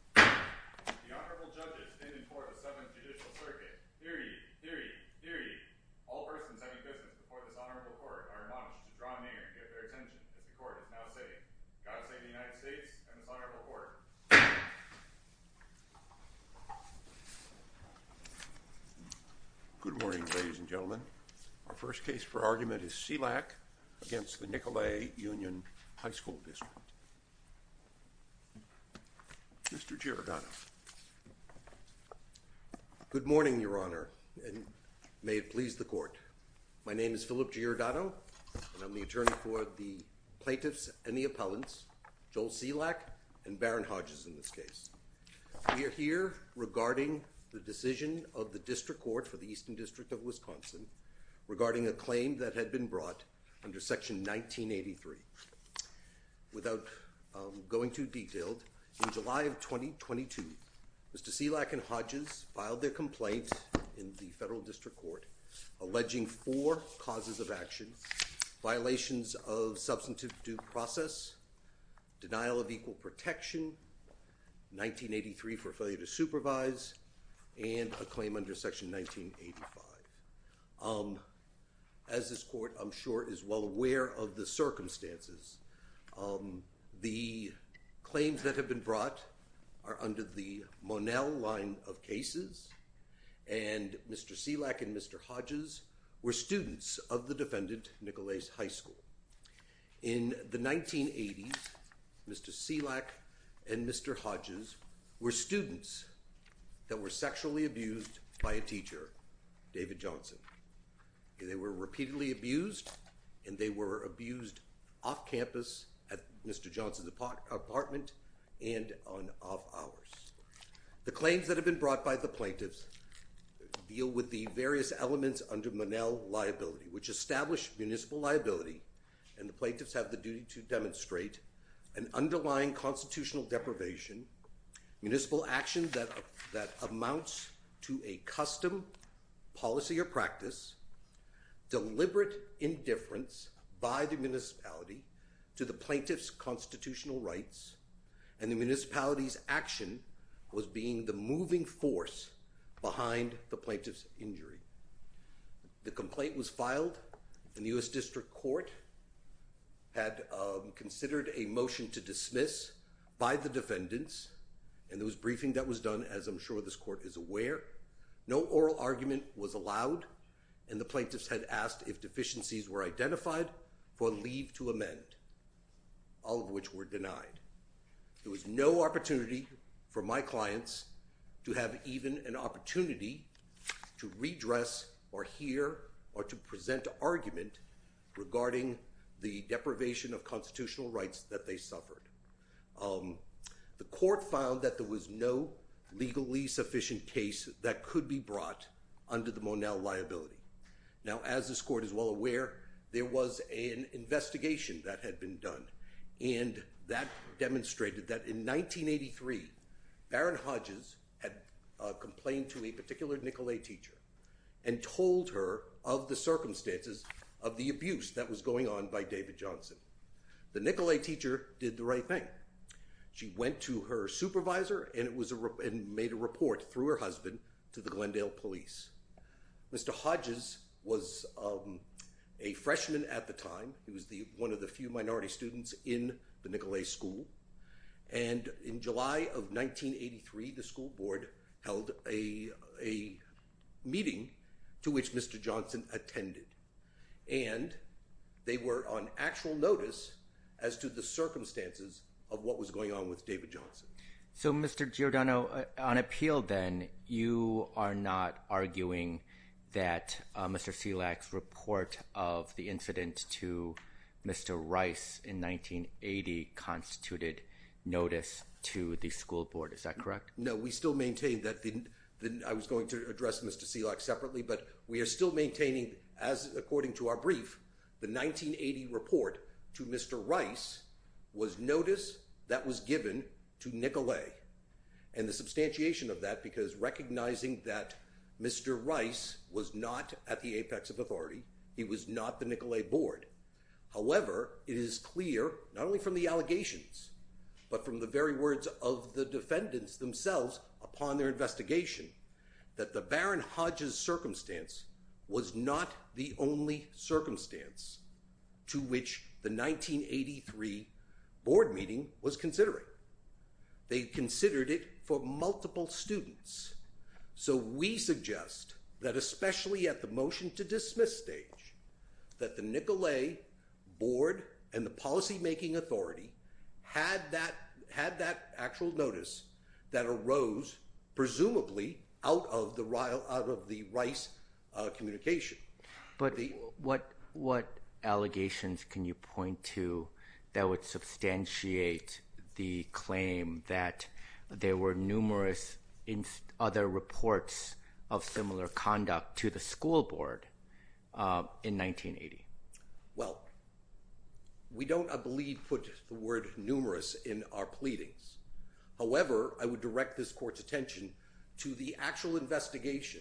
The Honorable Judges in and for the 7th Judicial Circuit, deary, deary, deary, all persons having business before this Honorable Court are admonished to draw near and give their attention as the Court is now sitting. God save the United States and this Honorable Court. Good morning, ladies and gentlemen. Our first case for argument is Cielak v. Nicolet Union High School District. Mr. Giordano. Good morning, Your Honor, and may it please the Court. My name is Philip Giordano, and I'm the attorney for the plaintiffs and the appellants, Joel Cielak and Baron Hodges in this case. We are here regarding the decision of the District Court for the Eastern District of Wisconsin regarding a claim that had been brought under Section 1983. Without going too detailed, in July of 2022, Mr. Cielak and Hodges filed their complaint in the Federal District Court alleging four causes of action. Violations of substantive due process, denial of equal protection, 1983 for failure to supervise, and a claim under Section 1985. As this Court, I'm sure, is well aware of the circumstances, the claims that have been brought are under the Monell line of cases, and Mr. Cielak and Mr. Hodges were students of the defendant, Nicolet High School. In the 1980s, Mr. Cielak and Mr. Hodges were students that were sexually abused by a teacher, David Johnson. They were repeatedly abused, and they were abused off campus at Mr. Johnson's apartment and on off hours. The claims that have been brought by the plaintiffs deal with the various elements under Monell liability, which establish municipal liability, and the plaintiffs have the duty to demonstrate an underlying constitutional deprivation, municipal action that amounts to a custom, policy, or practice, deliberate indifference by the municipality to the plaintiff's constitutional rights, and the municipality's action was being the moving force behind the plaintiff's injury. The complaint was filed in the U.S. District Court, had considered a motion to dismiss by the defendants, and there was briefing that was done, as I'm sure this Court is aware. No oral argument was allowed, and the plaintiffs had asked if deficiencies were identified for leave to amend, all of which were denied. There was no opportunity for my clients to have even an opportunity to redress or hear or to present an argument regarding the deprivation of constitutional rights that they suffered. The Court found that there was no legally sufficient case that could be brought under the Monell liability. Now, as this Court is well aware, there was an investigation that had been done, and that demonstrated that in 1983, Barron Hodges had complained to a particular Nicolet teacher and told her of the circumstances of the abuse that was going on by David Johnson. The Nicolet teacher did the right thing. She went to her supervisor and made a report through her husband to the Glendale police. Mr. Hodges was a freshman at the time. He was one of the few minority students in the Nicolet school, and in July of 1983, the school board held a meeting to which Mr. Johnson attended, and they were on actual notice as to the circumstances of what was going on with David Johnson. So, Mr. Giordano, on appeal then, you are not arguing that Mr. Selak's report of the incident to Mr. Rice in 1980 constituted notice to the school board, is that correct? No, we still maintain that. I was going to address Mr. Selak separately, but we are still maintaining, according to our brief, the 1980 report to Mr. Rice was notice that was given to Nicolet and the substantiation of that, because recognizing that Mr. Rice was not at the apex of authority, he was not the Nicolet board. However, it is clear, not only from the allegations, but from the very words of the defendants themselves upon their investigation, that the Baron Hodges circumstance was not the only circumstance to which the 1983 board meeting was considered. They considered it for multiple students. So we suggest that, especially at the motion to dismiss stage, that the Nicolet board and the policymaking authority had that actual notice that arose, presumably, out of the Rice communication. But what allegations can you point to that would substantiate the claim that there were numerous other reports of similar conduct to the school board in 1980? Well, we don't, I believe, put the word numerous in our pleadings. However, I would direct this court's attention to the actual investigation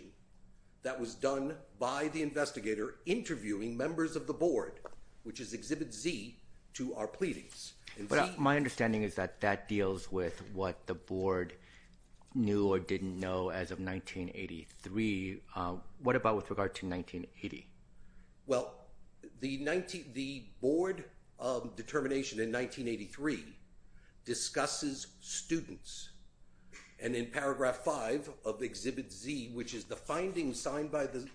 that was done by the investigator interviewing members of the board, which is Exhibit Z, to our pleadings. But my understanding is that that deals with what the board knew or didn't know as of 1983. What about with regard to 1980? Well, the board determination in 1983 discusses students. And in paragraph 5 of Exhibit Z, which is the finding signed by the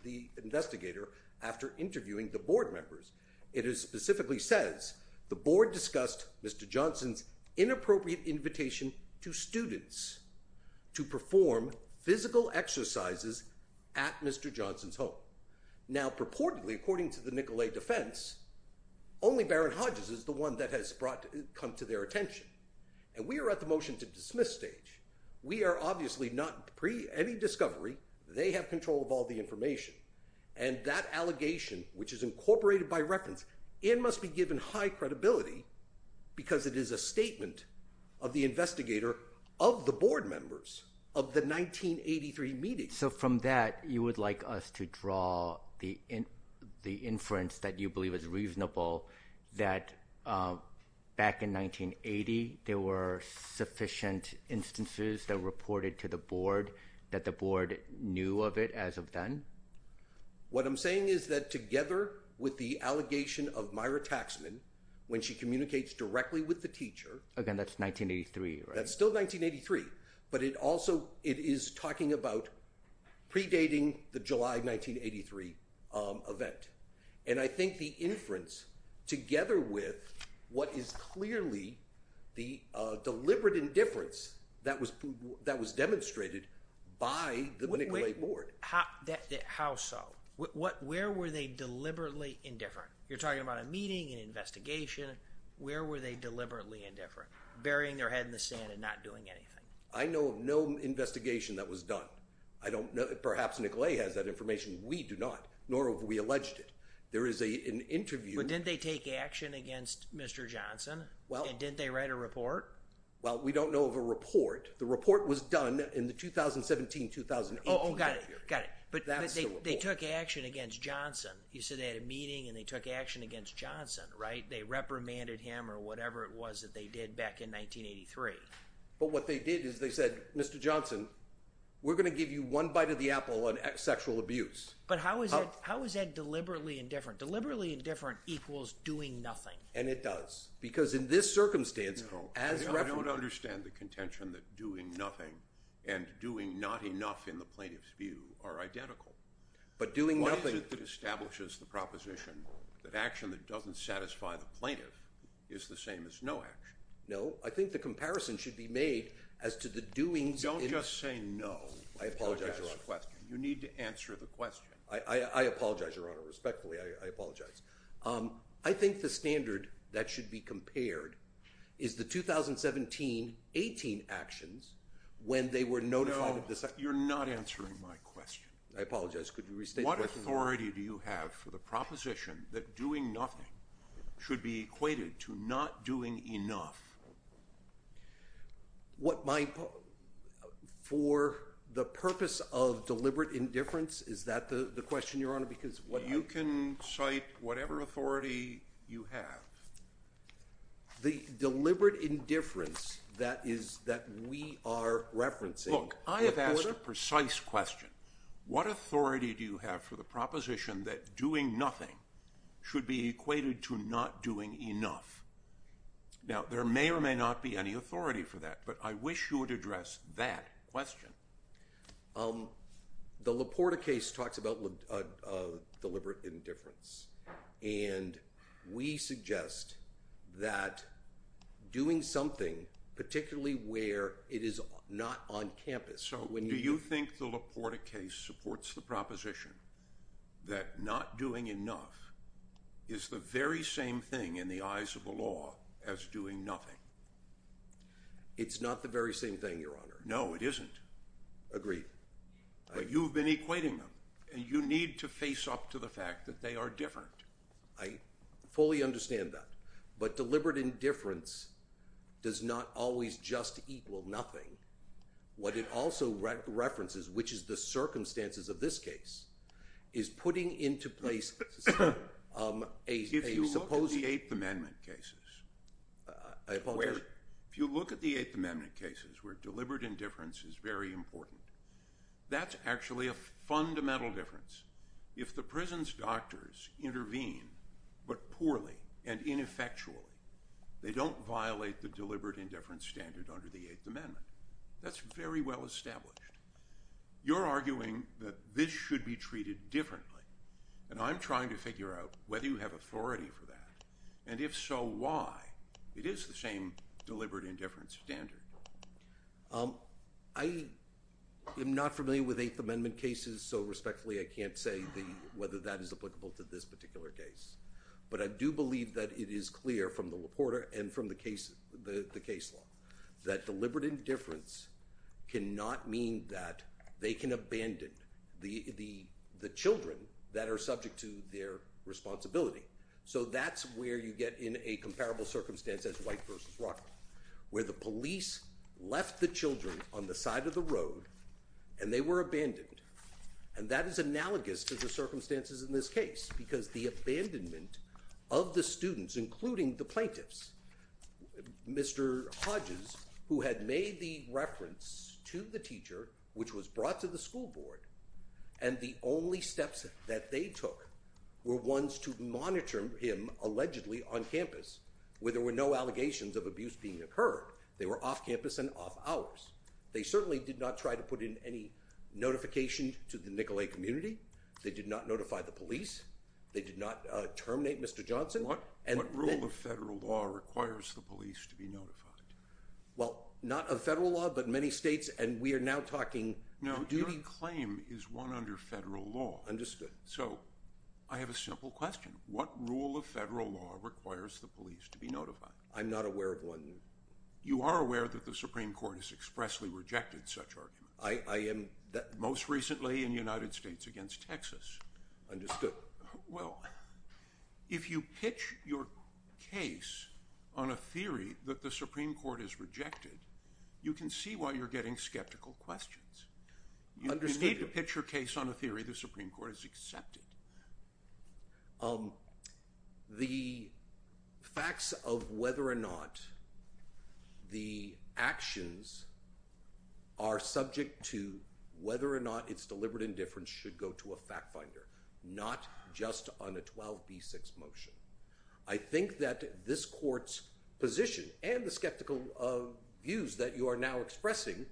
investigator after interviewing the board members, it specifically says, the board discussed Mr. Johnson's inappropriate invitation to students to perform physical exercises at Mr. Johnson's home. Now, purportedly, according to the Nicolet defense, only Baron Hodges is the one that has come to their attention. And we are at the motion to dismiss stage. We are obviously not, pre any discovery, they have control of all the information. And that allegation, which is incorporated by reference and must be given high credibility, because it is a statement of the investigator of the board members of the 1983 meeting. So from that, you would like us to draw the inference that you believe is reasonable, that back in 1980, there were sufficient instances that reported to the board that the board knew of it as of then? What I'm saying is that together with the allegation of Myra Taxman, when she communicates directly with the teacher. Again, that's 1983, right? It's still 1983. But it also, it is talking about predating the July 1983 event. And I think the inference, together with what is clearly the deliberate indifference that was demonstrated by the Nicolet board. How so? Where were they deliberately indifferent? You're talking about a meeting, an investigation. Where were they deliberately indifferent? Burying their head in the sand and not doing anything. I know of no investigation that was done. I don't know, perhaps Nicolet has that information. We do not, nor have we alleged it. There is an interview. But didn't they take action against Mr. Johnson? And didn't they write a report? Well, we don't know of a report. The report was done in the 2017-2018. Oh, got it, got it. But they took action against Johnson. You said they had a meeting and they took action against Johnson, right? They reprimanded him or whatever it was that they did back in 1983. But what they did is they said, Mr. Johnson, we're going to give you one bite of the apple on sexual abuse. But how is that deliberately indifferent? Deliberately indifferent equals doing nothing. And it does. Because in this circumstance, as reprimanded. I don't understand the contention that doing nothing and doing not enough in the plaintiff's view are identical. What is it that establishes the proposition that action that doesn't satisfy the plaintiff is the same as no action? No, I think the comparison should be made as to the doings. Don't just say no. I apologize, Your Honor. You need to answer the question. I apologize, Your Honor. Respectfully, I apologize. I think the standard that should be compared is the 2017-2018 actions when they were notified. No, you're not answering my question. I apologize. Could you restate the question? What authority do you have for the proposition that doing nothing should be equated to not doing enough? For the purpose of deliberate indifference, is that the question, Your Honor? You can cite whatever authority you have. The deliberate indifference that we are referencing. Look, I have asked a precise question. What authority do you have for the proposition that doing nothing should be equated to not doing enough? Now, there may or may not be any authority for that, but I wish you would address that question. The LaPorta case talks about deliberate indifference, and we suggest that doing something, particularly where it is not on campus. Do you think the LaPorta case supports the proposition that not doing enough is the very same thing in the eyes of the law as doing nothing? It's not the very same thing, Your Honor. No, it isn't. Agreed. But you've been equating them, and you need to face up to the fact that they are different. I fully understand that, but deliberate indifference does not always just equal nothing. What it also references, which is the circumstances of this case, is putting into place a supposed— If you look at the Eighth Amendment cases— I apologize. If you look at the Eighth Amendment cases where deliberate indifference is very important, that's actually a fundamental difference. If the prison's doctors intervene, but poorly and ineffectually, they don't violate the deliberate indifference standard under the Eighth Amendment. That's very well established. You're arguing that this should be treated differently, and I'm trying to figure out whether you have authority for that, and if so, why it is the same deliberate indifference standard. I am not familiar with Eighth Amendment cases, so respectfully I can't say whether that is applicable to this particular case. But I do believe that it is clear from the reporter and from the case law that deliberate indifference cannot mean that they can abandon the children that are subject to their responsibility. So that's where you get in a comparable circumstance as White v. Rockefeller, where the police left the children on the side of the road, and they were abandoned. And that is analogous to the circumstances in this case, because the abandonment of the students, including the plaintiffs— Mr. Hodges, who had made the reference to the teacher, which was brought to the school board, and the only steps that they took were ones to monitor him, allegedly, on campus, where there were no allegations of abuse being occurred. They were off campus and off hours. They certainly did not try to put in any notification to the Nicolet community. They did not notify the police. They did not terminate Mr. Johnson. What rule of federal law requires the police to be notified? Well, not a federal law, but many states, and we are now talking— No, your claim is one under federal law. Understood. So I have a simple question. What rule of federal law requires the police to be notified? I'm not aware of one. You are aware that the Supreme Court has expressly rejected such arguments. I am— Most recently in the United States against Texas. Understood. Well, if you pitch your case on a theory that the Supreme Court has rejected, you can see why you're getting skeptical questions. Understood. You need to pitch your case on a theory the Supreme Court has accepted. The facts of whether or not the actions are subject to whether or not it's deliberate indifference should go to a fact finder, not just on a 12b6 motion. I think that this court's position and the skeptical views that you are now expressing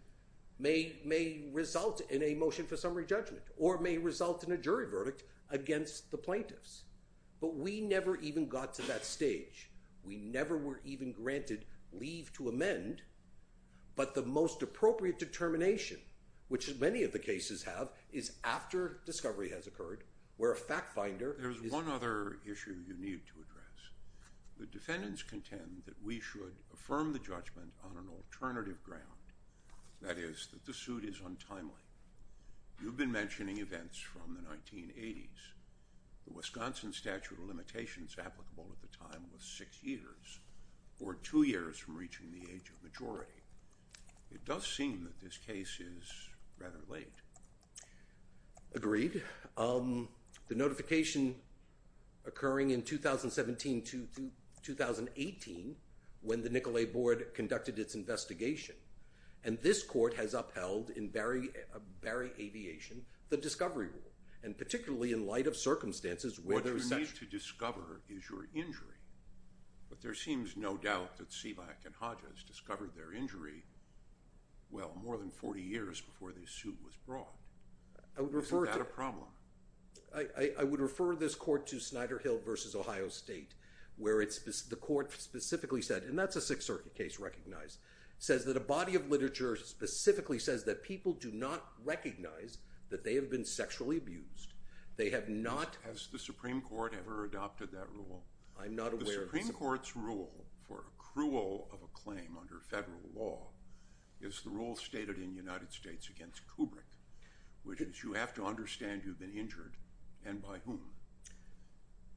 may result in a motion for summary judgment or may result in a jury verdict against the plaintiffs. But we never even got to that stage. We never were even granted leave to amend, but the most appropriate determination, which many of the cases have, is after discovery has occurred, where a fact finder— There's one other issue you need to address. The defendants contend that we should affirm the judgment on an alternative ground, that is, that the suit is untimely. You've been mentioning events from the 1980s. The Wisconsin statute of limitations applicable at the time was six years or two years from reaching the age of majority. It does seem that this case is rather late. Agreed. The notification occurring in 2017 to 2018, when the Nicolet board conducted its investigation, and this court has upheld in Barry Aviation the discovery rule, and particularly in light of circumstances where there is such— What you need to discover is your injury. But there seems no doubt that Sivak and Hodges discovered their injury, well, more than 40 years before the suit was brought. Isn't that a problem? I would refer this court to Snyder Hill v. Ohio State, where the court specifically said—and that's a Sixth Circuit case recognized—says that a body of literature specifically says that people do not recognize that they have been sexually abused. They have not— Has the Supreme Court ever adopted that rule? I'm not aware of— The Supreme Court's rule for accrual of a claim under federal law is the rule stated in the United States against Kubrick, which is you have to understand you've been injured, and by whom.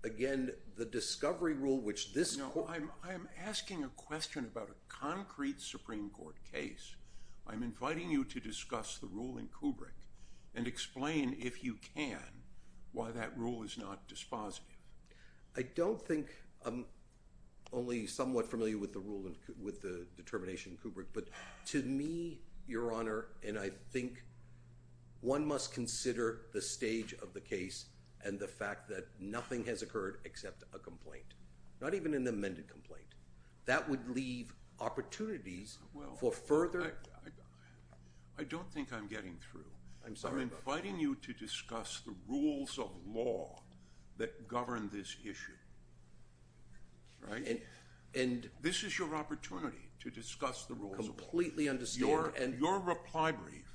Again, the discovery rule, which this court— No, I'm asking a question about a concrete Supreme Court case. I'm inviting you to discuss the rule in Kubrick and explain, if you can, why that rule is not dispositive. I don't think—I'm only somewhat familiar with the rule and with the determination in Kubrick. But to me, Your Honor, and I think one must consider the stage of the case and the fact that nothing has occurred except a complaint, not even an amended complaint. That would leave opportunities for further— Well, I don't think I'm getting through. I'm sorry, but— Right? And— This is your opportunity to discuss the rules of— Completely understand— Your reply brief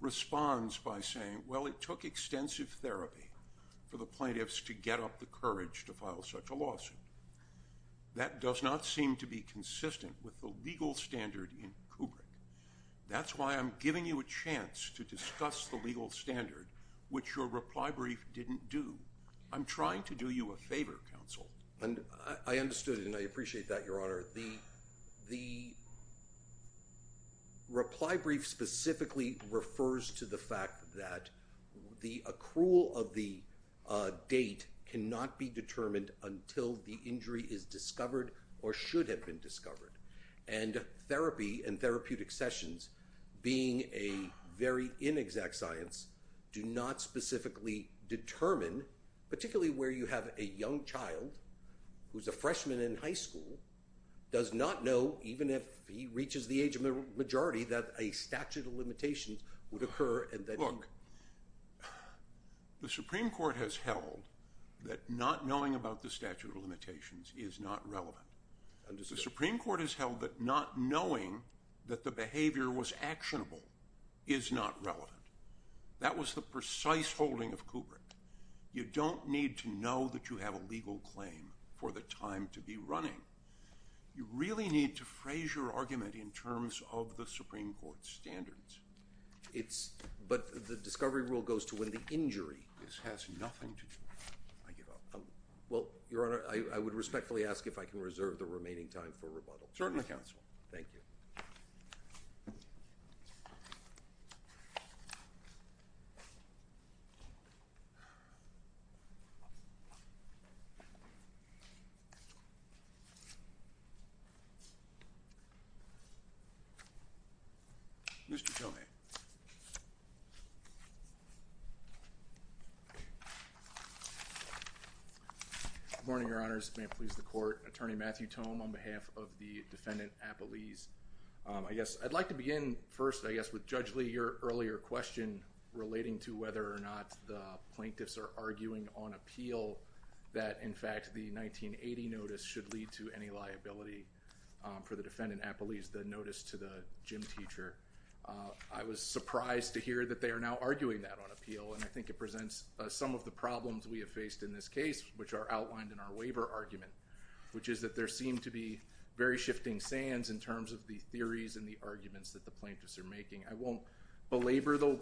responds by saying, well, it took extensive therapy for the plaintiffs to get up the courage to file such a lawsuit. That does not seem to be consistent with the legal standard in Kubrick. That's why I'm giving you a chance to discuss the legal standard, which your reply brief didn't do. I'm trying to do you a favor, counsel. I understood, and I appreciate that, Your Honor. The reply brief specifically refers to the fact that the accrual of the date cannot be determined until the injury is discovered or should have been discovered. And therapy and therapeutic sessions, being a very inexact science, do not specifically determine, particularly where you have a young child who's a freshman in high school, does not know, even if he reaches the age of a majority, that a statute of limitations would occur and that he— Look, the Supreme Court has held that not knowing about the statute of limitations is not relevant. I understand. The Supreme Court has held that not knowing that the behavior was actionable is not relevant. That was the precise holding of Kubrick. You don't need to know that you have a legal claim for the time to be running. You really need to phrase your argument in terms of the Supreme Court standards. It's—but the discovery rule goes to when the injury— This has nothing to do— I give up. Well, Your Honor, I would respectfully ask if I can reserve the remaining time for rebuttal. Certainly, Counsel. Thank you. Mr. Tomei. Good morning, Your Honors. May it please the Court. Attorney Matthew Tomei on behalf of the defendant, Appelese. I guess I'd like to begin first, I guess, with Judge Lee, your earlier question relating to whether or not the plaintiffs are arguing on appeal that, in fact, the 1980 notice should lead to any liability for the defendant, Appelese, the notice to the gym teacher. I was surprised to hear that they are now arguing that on appeal, and I think it presents some of the problems we have faced in this case, which are outlined in our waiver argument, which is that there seem to be very shifting sands in terms of the theories and the arguments that the plaintiffs are making. I won't belabor the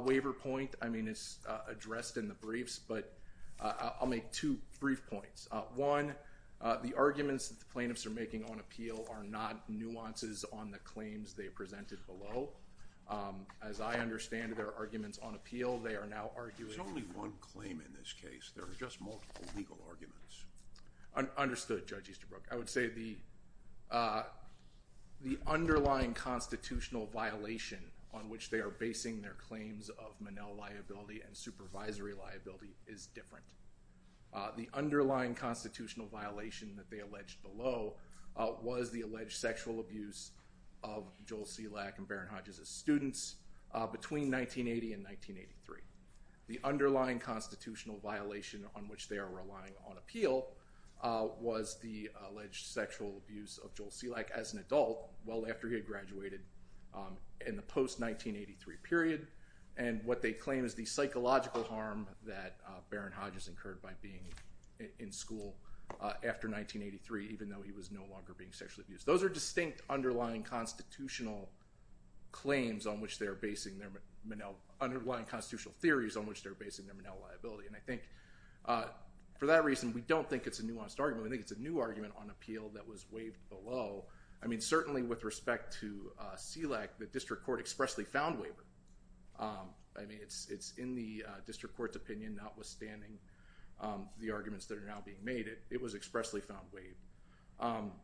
waiver point. I mean, it's addressed in the briefs, but I'll make two brief points. One, the arguments that the plaintiffs are making on appeal are not nuances on the claims they presented below. As I understand it, there are arguments on appeal. They are now arguing— There's only one claim in this case. There are just multiple legal arguments. Understood, Judge Easterbrook. I would say the underlying constitutional violation on which they are basing their claims of Monell liability and supervisory liability is different. The underlying constitutional violation that they alleged below was the alleged sexual abuse of Joel Selak and Baron Hodges' students between 1980 and 1983. The underlying constitutional violation on which they are relying on appeal was the alleged sexual abuse of Joel Selak as an adult well after he had graduated in the post-1983 period. And what they claim is the psychological harm that Baron Hodges incurred by being in school after 1983, even though he was no longer being sexually abused. Those are distinct underlying constitutional claims on which they are basing their Monell— underlying constitutional theories on which they are basing their Monell liability. And I think for that reason, we don't think it's a nuanced argument. We think it's a new argument on appeal that was waived below. I mean, certainly with respect to Selak, the district court expressly found waiver. I mean, it's in the district court's opinion, notwithstanding the arguments that are now being made. It was expressly found waived.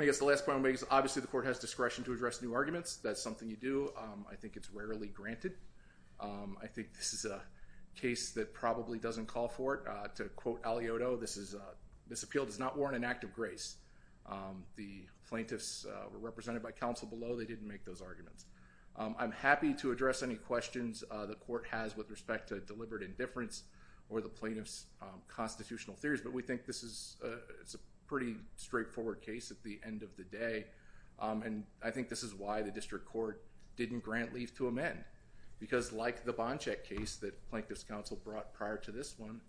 I guess the last point I want to make is obviously the court has discretion to address new arguments. That's something you do. I think it's rarely granted. I think this is a case that probably doesn't call for it. To quote Alioto, this appeal does not warrant an act of grace. The plaintiffs were represented by counsel below. They didn't make those arguments. I'm happy to address any questions the court has with respect to deliberate indifference or the plaintiff's constitutional theories, but we think this is a pretty straightforward case at the end of the day. And I think this is why the district court didn't grant leave to amend, because like the Bonchek case that Plaintiffs' Counsel brought prior to this one,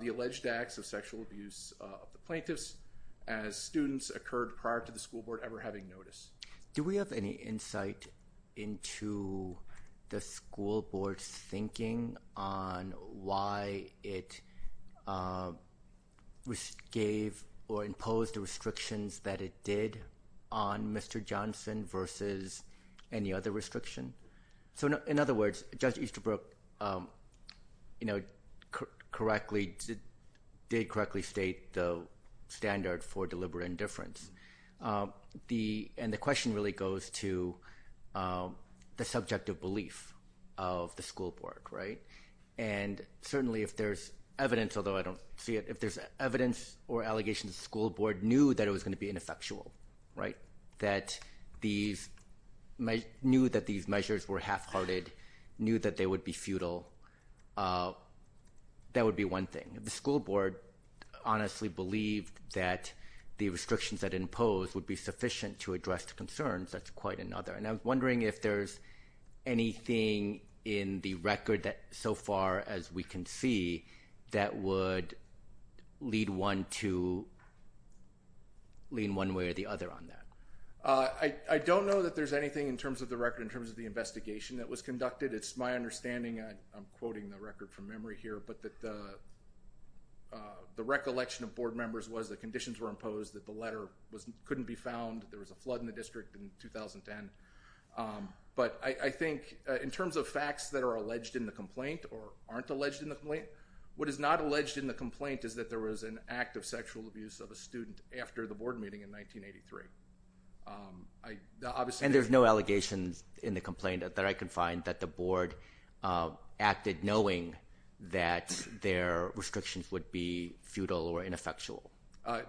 the alleged acts of sexual abuse of the plaintiffs as students occurred prior to the school board ever having notice. Do we have any insight into the school board's thinking on why it gave or imposed the restrictions that it did on Mr. Johnson versus any other restriction? In other words, Judge Easterbrook did correctly state the standard for deliberate indifference, and the question really goes to the subjective belief of the school board. And certainly if there's evidence, although I don't see it, if there's evidence or allegations the school board knew that it was going to be ineffectual, that these measures were half-hearted, knew that they would be futile, that would be one thing. If the school board honestly believed that the restrictions that it imposed would be sufficient to address the concerns, that's quite another. And I'm wondering if there's anything in the record so far as we can see that would lead one to lean one way or the other on that. I don't know that there's anything in terms of the record in terms of the investigation that was conducted. It's my understanding, and I'm quoting the record from memory here, but that the recollection of board members was that conditions were imposed, that the letter couldn't be found, that there was a flood in the district in 2010. But I think in terms of facts that are alleged in the complaint or aren't alleged in the complaint, what is not alleged in the complaint is that there was an act of sexual abuse of a student after the board meeting in 1983. And there's no allegations in the complaint that I can find that the board acted knowing that their restrictions would be futile or ineffectual?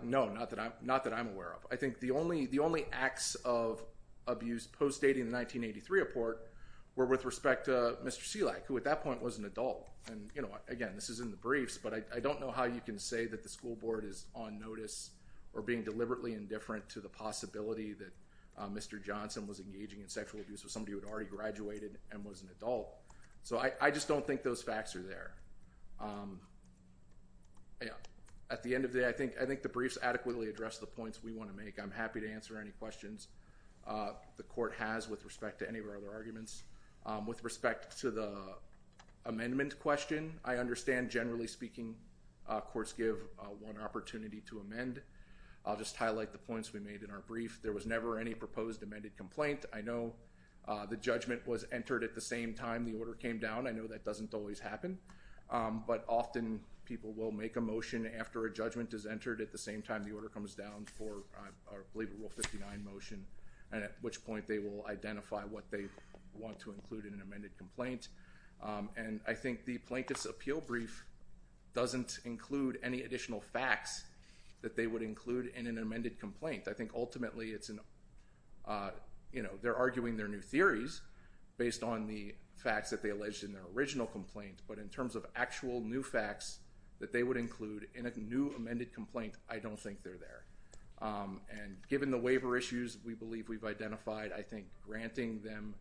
No, not that I'm aware of. I think the only acts of abuse post-dating the 1983 report were with respect to Mr. Selak, who at that point was an adult. And again, this is in the briefs, but I don't know how you can say that the school board is on notice or being deliberately indifferent to the possibility that Mr. Johnson was engaging in sexual abuse with somebody who had already graduated and was an adult. So I just don't think those facts are there. At the end of the day, I think the briefs adequately address the points we want to make. I'm happy to answer any questions the court has with respect to any of our other arguments. With respect to the amendment question, I understand, generally speaking, courts give one opportunity to amend. I'll just highlight the points we made in our brief. There was never any proposed amended complaint. I know the judgment was entered at the same time the order came down. I know that doesn't always happen. But often people will make a motion after a judgment is entered at the same time the order comes down for, I believe, a Rule 59 motion, and at which point they will identify what they want to include in an amended complaint. And I think the Plaintiff's Appeal Brief doesn't include any additional facts that they would include in an amended complaint. I think ultimately they're arguing their new theories based on the facts that they alleged in their original complaint, but in terms of actual new facts that they would include in a new amended complaint, I don't think they're there. And given the waiver issues we believe we've identified, I think granting them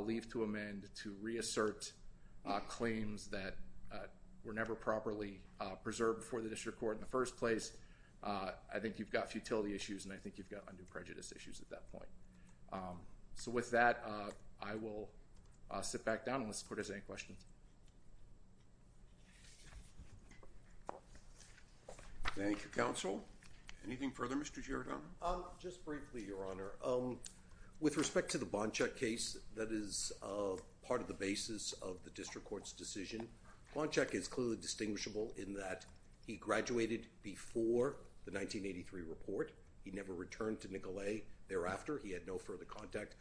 leave to amend to reassert claims that were never properly preserved before the district court in the first place, I think you've got futility issues and I think you've got undue prejudice issues at that point. So with that, I will sit back down unless the court has any questions. Thank you, Counsel. Anything further, Mr. Giordano? Just briefly, Your Honor. With respect to the Bonchek case that is part of the basis of the district court's decision, Bonchek is clearly distinguishable in that he graduated before the 1983 report. He never returned to Nicolet thereafter. He had no further contact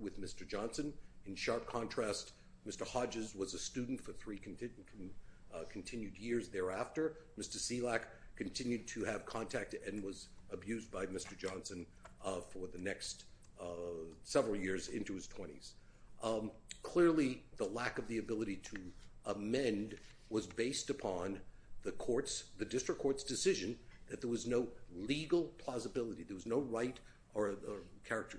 with Mr. Johnson. In sharp contrast, Mr. Hodges was a student for three continued years thereafter. Mr. Selak continued to have contact and was abused by Mr. Johnson for the next several years into his 20s. Clearly, the lack of the ability to amend was based upon the court's, the district court's decision that there was no legal plausibility, there was no right or character.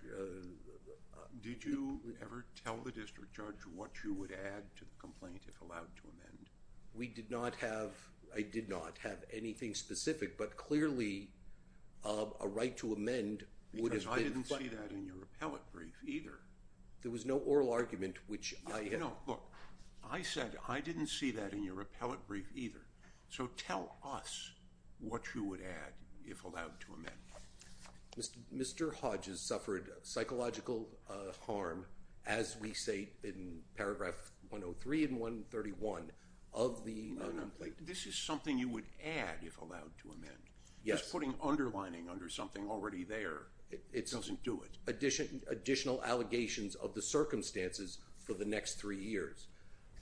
Did you ever tell the district judge what you would add to the complaint if allowed to amend? We did not have, I did not have anything specific, but clearly a right to amend would have been... Because I didn't see that in your appellate brief either. There was no oral argument which I... No, look, I said I didn't see that in your appellate brief either. So tell us what you would add if allowed to amend. Mr. Hodges suffered psychological harm, as we say in paragraph 103 and 131 of the non-complaint. This is something you would add if allowed to amend. Yes. Just putting underlining under something already there doesn't do it. Additional allegations of the circumstances for the next three years.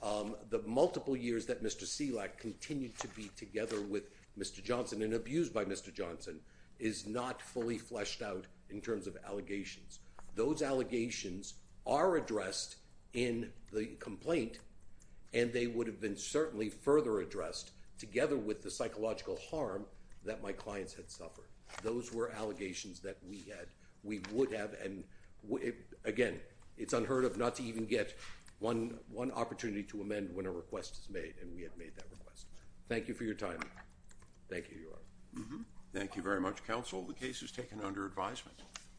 The multiple years that Mr. Selak continued to be together with Mr. Johnson and abused by Mr. Johnson is not fully fleshed out in terms of allegations. Those allegations are addressed in the complaint and they would have been certainly further addressed together with the psychological harm that my clients had suffered. Those were allegations that we had. We would have and, again, it's unheard of not to even get one opportunity to amend when a request is made and we have made that request. Thank you for your time. Thank you, Your Honor. Thank you very much, counsel. The case is taken under advisement.